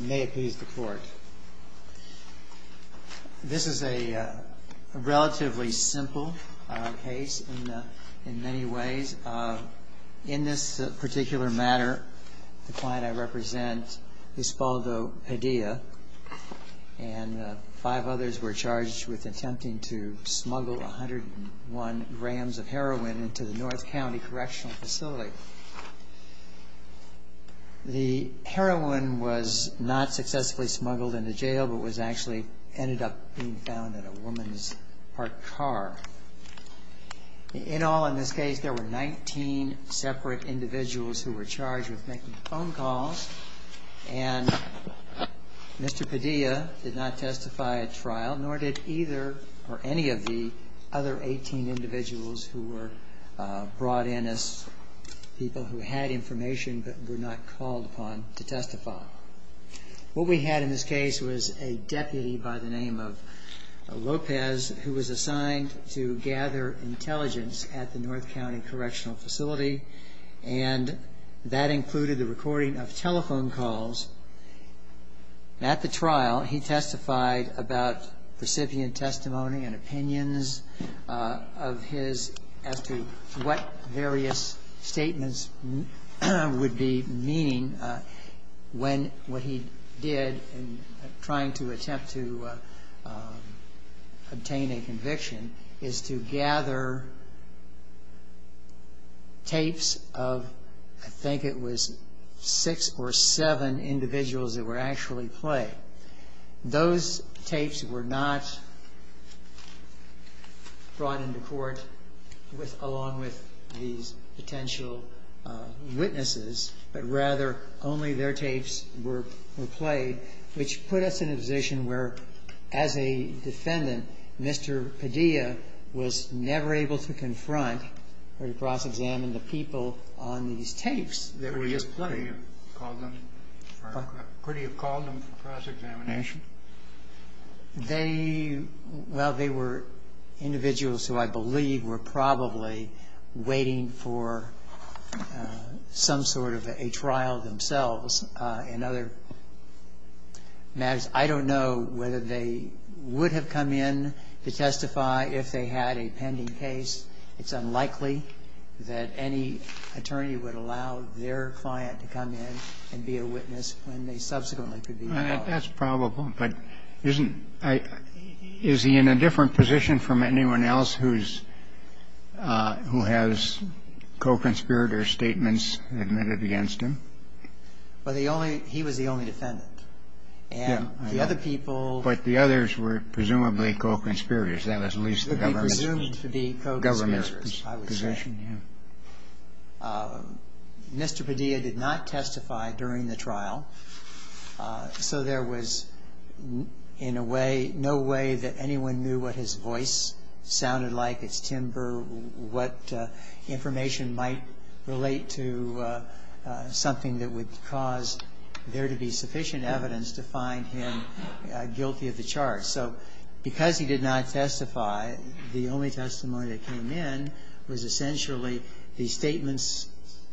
May it please the court. This is a relatively simple case in many ways. In this particular matter, the client I represent, Usbaldo Padilla, and five others were charged with attempting to smuggle 101 grams of heroin into the North County Correctional Facility. The heroin was not successfully smuggled into jail, but was actually ended up being found in a woman's parked car. In all, in this case, there were 19 separate individuals who were charged with making phone calls, and Mr. Padilla did not testify at trial, nor did either or any of the other 18 individuals who were brought in as people who had information but were not called upon to testify. What we had in this case was a deputy by the name of Lopez who was assigned to gather intelligence at the North County Correctional Facility, and that included the recording of telephone calls. At the trial, he testified about recipient meaning when what he did in trying to attempt to obtain a conviction is to gather tapes of I think it was six or seven individuals that were actually played. Those tapes were not brought into court with, along with these potential witnesses, but rather only their tapes were played, which put us in a position where, as a defendant, Mr. Padilla was never able to confront or to cross-examine the people on these tapes that were just played. They, well, they were individuals who I believe were probably waiting for some sort of a trial themselves in other matters. I don't know whether they would have come in to testify if they had a pending case. It's unlikely that any attorney would allow their client to come in and be a witness when they subsequently could be held. That's probable, but isn't he in a different position from anyone else who has co-conspirators' statements admitted against him? Well, the only he was the only defendant. And the other people But the others were presumably co-conspirators, that was at least the government's position, yeah. Mr. Padilla did not testify during the trial, so there was in a way, no way that anyone knew what his voice sounded like, its timbre, what information might relate to something that would cause there to be sufficient evidence to find him guilty of the charge. So because he did not testify, the only testimony that came in was essentially the statements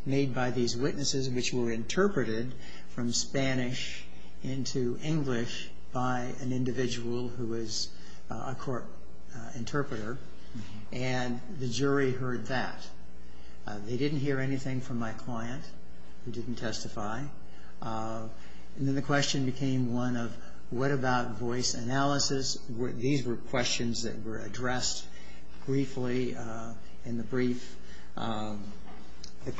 made by these witnesses, which were interpreted from Spanish into English by an individual who was a court interpreter. And the jury heard that. They didn't hear anything from my client who didn't testify. And then the question became one of what about voice analysis? These were questions that were addressed briefly in the brief. The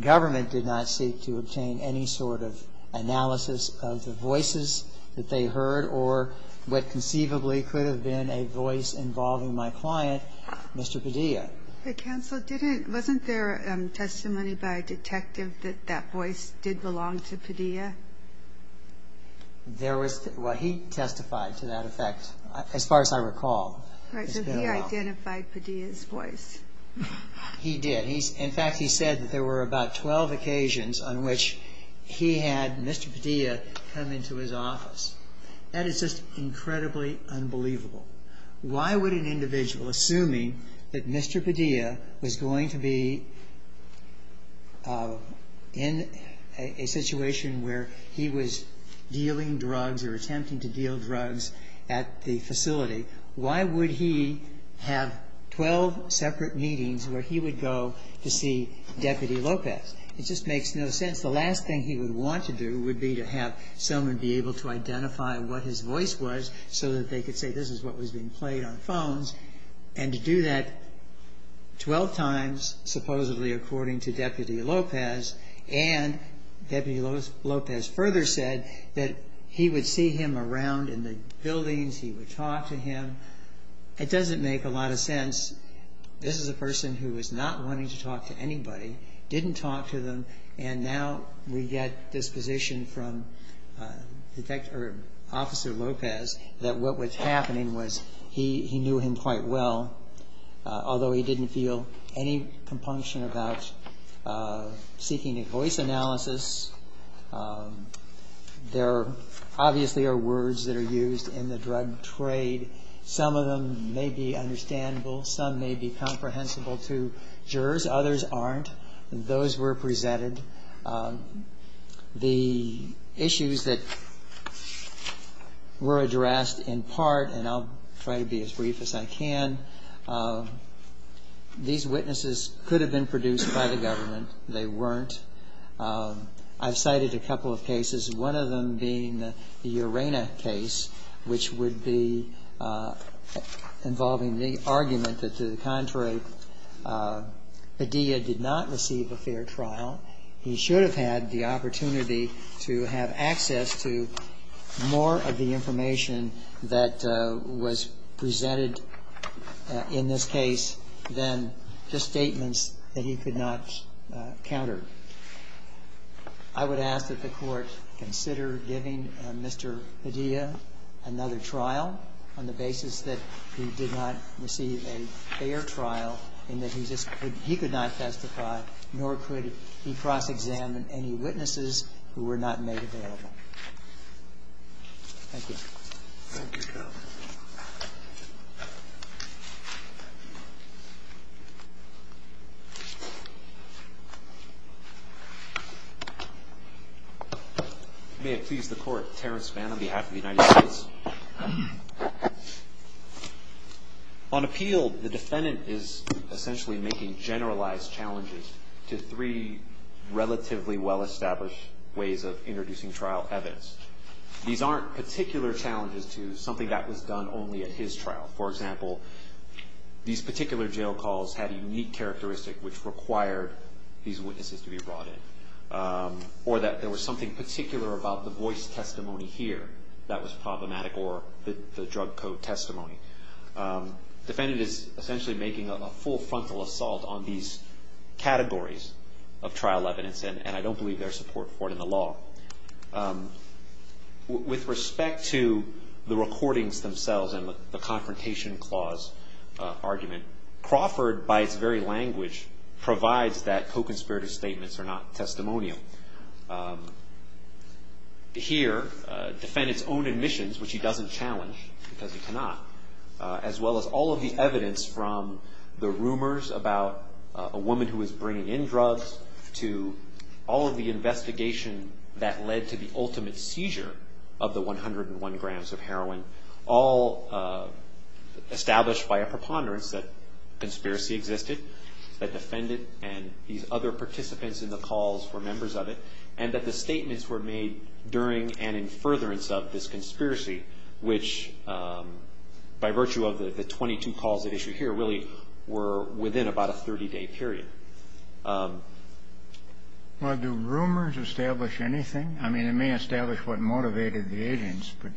government did not seek to obtain any sort of analysis of the voices that they heard or what conceivably could have been a voice involving my client, Mr. Padilla. But Counsel, wasn't there testimony by a detective that that voice did belong to Padilla? There was, well he testified to that effect, as far as I recall. Right, so he identified Padilla's voice. He did. In fact, he said that there were about 12 occasions on which he had Mr. Padilla come into his office. That is just incredibly unbelievable. Why would an individual, assuming that Mr. Padilla was going to be in a situation where he was dealing drugs or attempting to deal drugs at the facility, why would he have 12 separate meetings where he would go to see Deputy Lopez? It just makes no sense. The last thing he would want to do would be to have someone be able to identify what his voice was so that they could say this is what was being played on phones. And to do that 12 times, supposedly according to Deputy Lopez, and Deputy Lopez further said that he would see him around in the buildings. He would talk to him. It doesn't make a lot of sense. This is a person who was not wanting to talk to anybody, didn't talk to them, and now we get this position from Detective, or Officer Lopez, that what was happening was he knew him quite well, although he didn't feel any compunction about seeking a voice analysis. There obviously are words that are used in the drug trade. Some of them may be understandable. Some may be comprehensible to jurors. Others aren't. Those were presented. The issues that were addressed in part, and I'll try to be as brief as I can, these witnesses could have been produced by the government. They weren't. I've cited a couple of cases, one of them being the Urena case, which would be involving the argument that to the contrary, Padilla did not receive a fair trial. He should have had the opportunity to have access to more of the information that was presented in this case than just statements that he could not counter. I would ask that the Court consider giving Mr. Padilla another trial on the basis that he did not receive a fair trial and that he could not testify, nor could he cross-examine any witnesses who were not made available. Thank you. Thank you, Your Honor. May it please the Court, Terrence Mann on behalf of the United States. On appeal, the defendant is essentially making generalized challenges to three relatively well-established ways of introducing trial evidence. These aren't particular challenges to something that was done only at his trial. For example, these particular jail calls had a unique characteristic which required these witnesses to be brought in, or that there was something particular about the voice testimony here that was problematic, or the drug code testimony. Defendant is essentially making a full frontal assault on these categories of trial evidence, and I don't believe there's support for it in the law. With respect to the recordings themselves and the confrontation clause argument, Crawford, by its very language, provides that co-conspirator statements are not testimonial. Here, the defendant's own admissions, which he doesn't challenge because he cannot, as well as all of the evidence from the rumors about a woman who was bringing in drugs to all of the investigation that led to the ultimate seizure of the 101 grams of heroin, all established by a preponderance that conspiracy existed. The defendant and these other participants in the calls were members of it, and that the statements were made during and in furtherance of this conspiracy, which, by virtue of the 22 calls that issue here, really were within about a 30-day period. Well, do rumors establish anything? I mean, it may establish what motivated the agents, but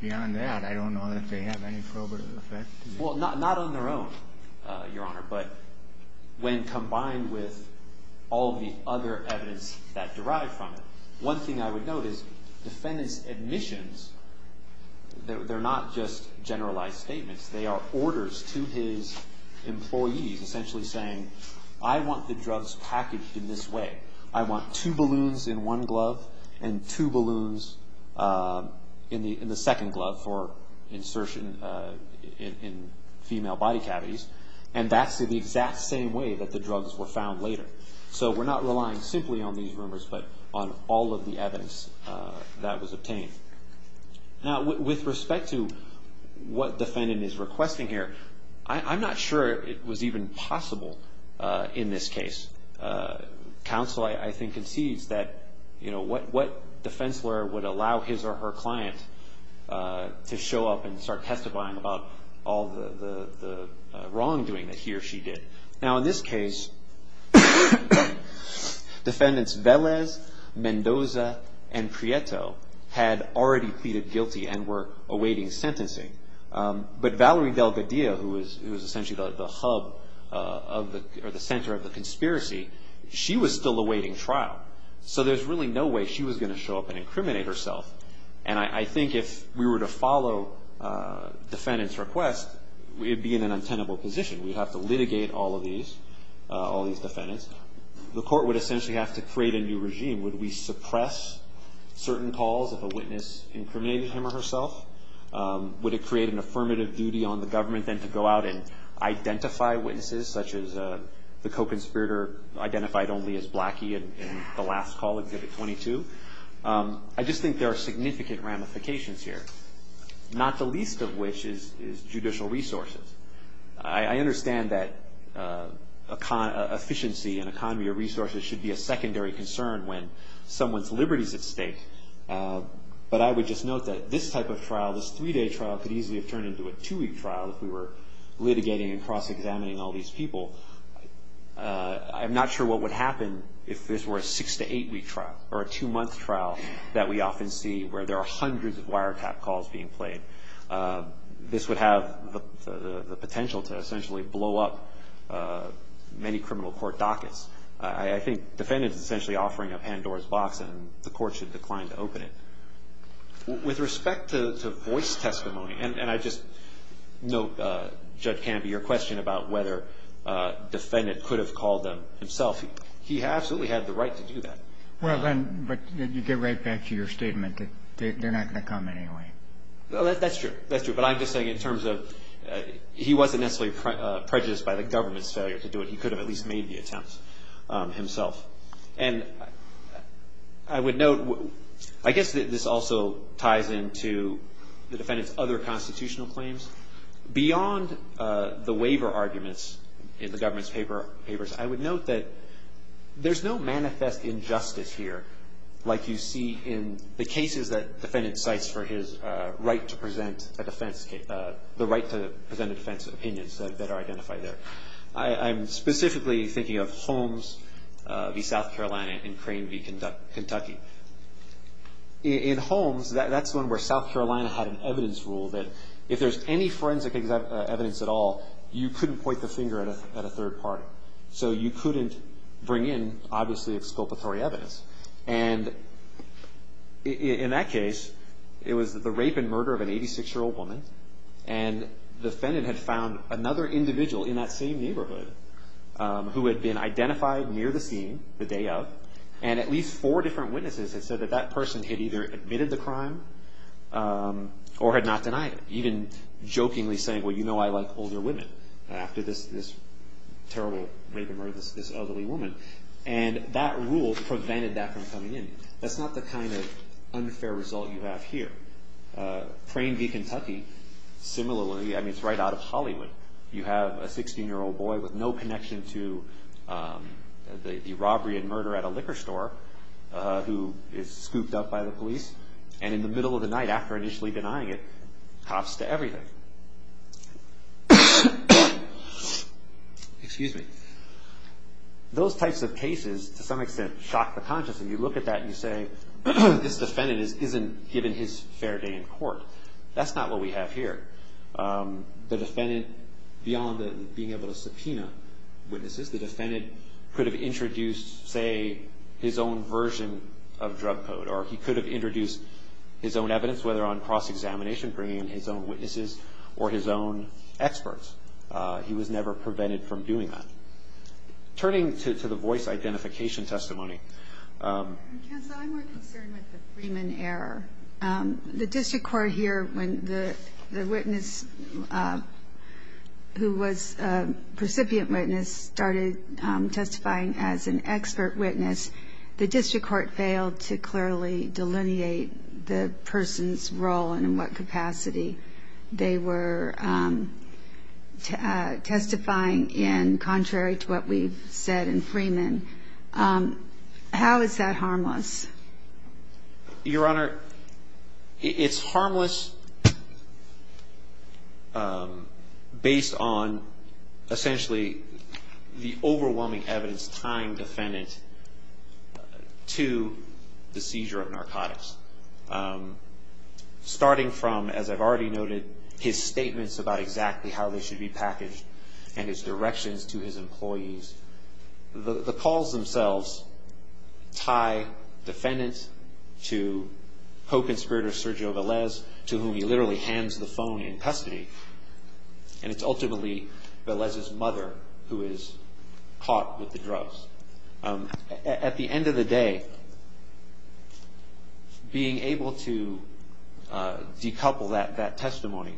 beyond that, I don't know that they have any probative effect. Well, not on their own, Your Honor, but when combined with all of the other evidence that derived from it, one thing I would note is defendant's admissions, they're not just generalized statements. They are orders to his employees, essentially saying, I want the drugs packaged in this way. I want two balloons in one glove and two balloons in the second glove for insertion in female body cavities. And that's the exact same way that the drugs were found later. So we're not relying simply on these rumors, but on all of the evidence that was obtained. Now, with respect to what defendant is requesting here, I'm not sure it was even possible in this case. Counsel, I think, concedes that what defense lawyer would allow his or her client to show up and start testifying about all the wrongdoing that he or she did. Now, in this case, defendants Velez, Mendoza, and Prieto had already pleaded guilty and were awaiting sentencing. But Valerie Delgadillo, who is essentially the hub or the center of the conspiracy, she was still awaiting trial. So there's really no way she was going to show up and incriminate herself. And I think if we were to follow defendant's request, we'd be in an untenable position. We'd have to litigate all of these defendants. The court would essentially have to create a new regime. Would we suppress certain calls if a witness incriminated him or herself? Would it create an affirmative duty on the government then to go out and identify witnesses, such as the co-conspirator identified only as Blackie in the last call, Exhibit 22? I just think there are significant ramifications here, not the least of which is judicial resources. I understand that efficiency and economy of resources should be a secondary concern when someone's liberty is at stake. But I would just note that this type of trial, this three-day trial, could easily have turned into a two-week trial if we were litigating and cross-examining all these people. I'm not sure what would happen if this were a six- to eight-week trial or a two-month trial that we often see where there are hundreds of wiretap calls being played. This would have the potential to essentially blow up many criminal court dockets. I think defendants are essentially offering a pan-doors box and the court should decline to open it. With respect to voice testimony, and I just note, Judge Canby, your question about whether a defendant could have called them himself, he absolutely had the right to do that. Well, then, but you get right back to your statement that they're not going to come anyway. Well, that's true. That's true. But I'm just saying in terms of he wasn't necessarily prejudiced by the government's failure to do it. He could have at least made the attempt himself. And I would note, I guess this also ties into the defendant's other constitutional claims. Beyond the waiver arguments in the government's papers, I would note that there's no manifest injustice here like you see in the cases that defendants cite for his right to present a defense, the right to present a defense of opinions that are identified there. I'm specifically thinking of Holmes v. South Carolina and Crane v. Kentucky. In Holmes, that's one where South Carolina had an evidence rule that if there's any forensic evidence at all, you couldn't point the finger at a third party. So you couldn't bring in, obviously, exculpatory evidence. And in that case, it was the rape and murder of an 86-year-old woman, and the defendant had found another individual in that same neighborhood who had been identified near the scene the day of, and at least four different witnesses had said that that person had either admitted the crime or had not denied it, even jokingly saying, well, you know I like older women after this terrible rape and murder of this elderly woman. And that rule prevented that from coming in. That's not the kind of unfair result you have here. Crane v. Kentucky, similarly, I mean, it's right out of Hollywood. You have a 16-year-old boy with no connection to the robbery and murder at a liquor store who is scooped up by the police, and in the middle of the night, after initially denying it, hops to everything. Those types of cases, to some extent, shock the conscience. And you look at that and you say, this defendant isn't given his fair day in court. That's not what we have here. The defendant, beyond being able to subpoena witnesses, the defendant could have introduced, say, his own version of drug code, or he could have introduced his own evidence, whether on cross-examination, bringing in his own witnesses or his own experts. He was never prevented from doing that. Turning to the voice identification testimony. Counsel, I'm more concerned with the Freeman error. The district court here, when the witness who was a recipient witness started testifying as an expert witness, the district court failed to clearly delineate the person's role and in what capacity they were testifying in, contrary to what we've said in Freeman. How is that harmless? Your Honor, it's harmless based on, essentially, the overwhelming evidence tying the defendant to the seizure of narcotics. Starting from, as I've already noted, his statements about exactly how they should be packaged and his directions to his employees, the calls themselves tie defendants to co-conspirator Sergio Velez, to whom he literally hands the phone in custody, and it's ultimately Velez's mother who is caught with the drugs. At the end of the day, being able to decouple that testimony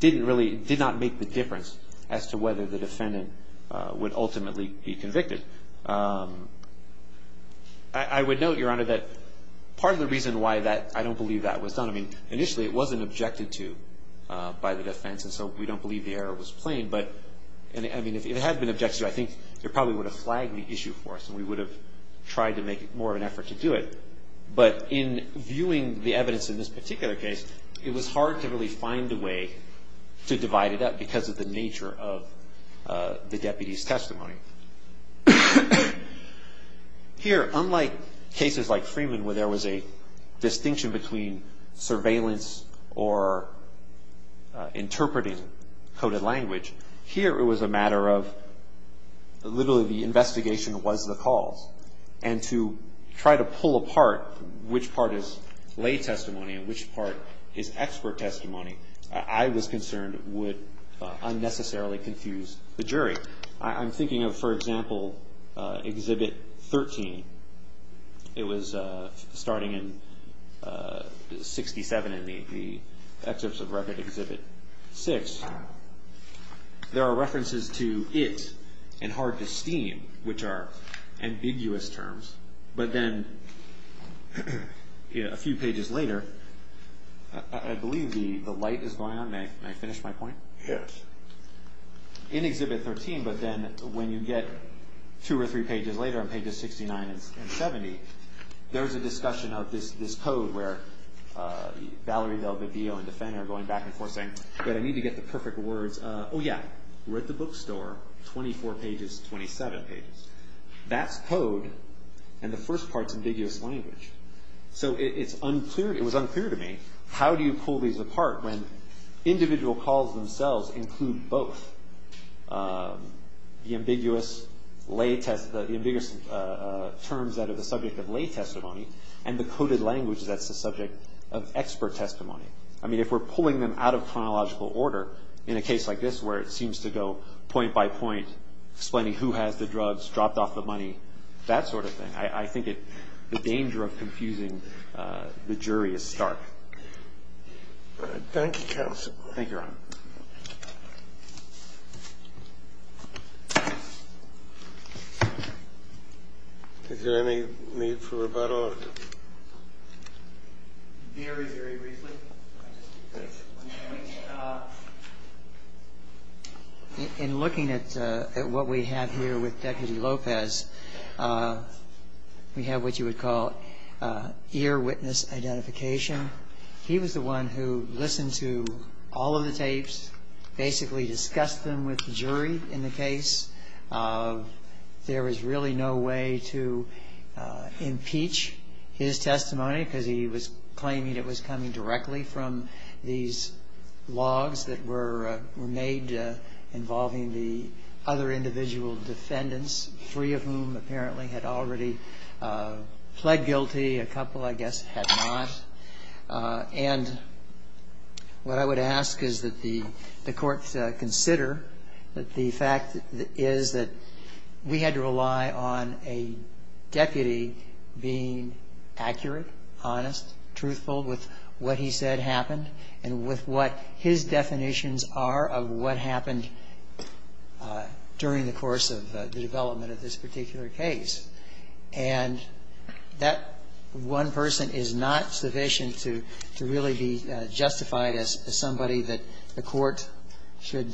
didn't really, did not make the difference as to whether the defendant would ultimately be convicted. I would note, Your Honor, that part of the reason why that, I don't believe that was done, I mean, initially it wasn't objected to by the defense, and so we don't believe the error was plain, but, I mean, if it had been objected to, I think they probably would have flagged the issue for us and we would have tried to make more of an effort to do it. But in viewing the evidence in this particular case, it was hard to really find a way to divide it up because of the nature of the deputy's testimony. Here, unlike cases like Freeman where there was a distinction between surveillance or interpreting coded language, here it was a matter of literally the investigation was the cause. And to try to pull apart which part is lay testimony and which part is expert testimony, I was concerned would unnecessarily confuse the jury. I'm thinking of, for example, Exhibit 13. It was starting in 67 in the Exhibits of Record, Exhibit 6. There are references to it and hard to steam, which are ambiguous terms, but then a few pages later, I believe the light is going on. May I finish my point? Yes. In Exhibit 13, but then when you get two or three pages later on pages 69 and 70, there's a discussion of this code where Valerie DelVivio and DeFener are going back and forth saying, but I need to get the perfect words. Oh, yeah, we're at the bookstore, 24 pages, 27 pages. That's code, and the first part's ambiguous language. So it was unclear to me how do you pull these apart when individual calls themselves include both the ambiguous terms that are the subject of lay testimony and the coded language that's the subject of expert testimony. I mean, if we're pulling them out of chronological order in a case like this where it seems to go point by point, explaining who has the drugs, dropped off the money, that sort of thing, I think the danger of confusing the jury is stark. Thank you, counsel. Thank you, Your Honor. Is there any need for rebuttal? Very, very briefly. In looking at what we have here with Deputy Lopez, we have what you would call ear witness identification. He was the one who listened to all of the tapes, basically discussed them with the jury in the case. There was really no way to impeach his testimony because he was claiming it was coming directly from these logs that were made involving the other individual defendants, three of whom apparently had already pled guilty. A couple, I guess, had not. And what I would ask is that the court consider that the fact is that we had to rely on a deputy being accurate, honest, truthful with what he said happened, and with what his definitions are of what happened during the course of the development of this particular case. And that one person is not sufficient to really be justified as somebody that the court should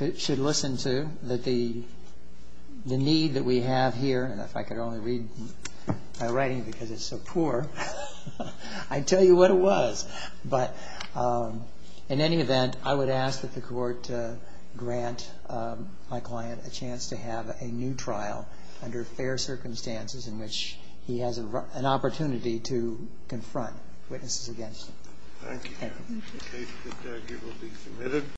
listen to, the need that we have here. And if I could only read my writing because it's so poor, I'd tell you what it was. But in any event, I would ask that the court grant my client a chance to have a new trial under fair circumstances in which he has an opportunity to confront witnesses against him. Thank you, Your Honor. The case will be submitted.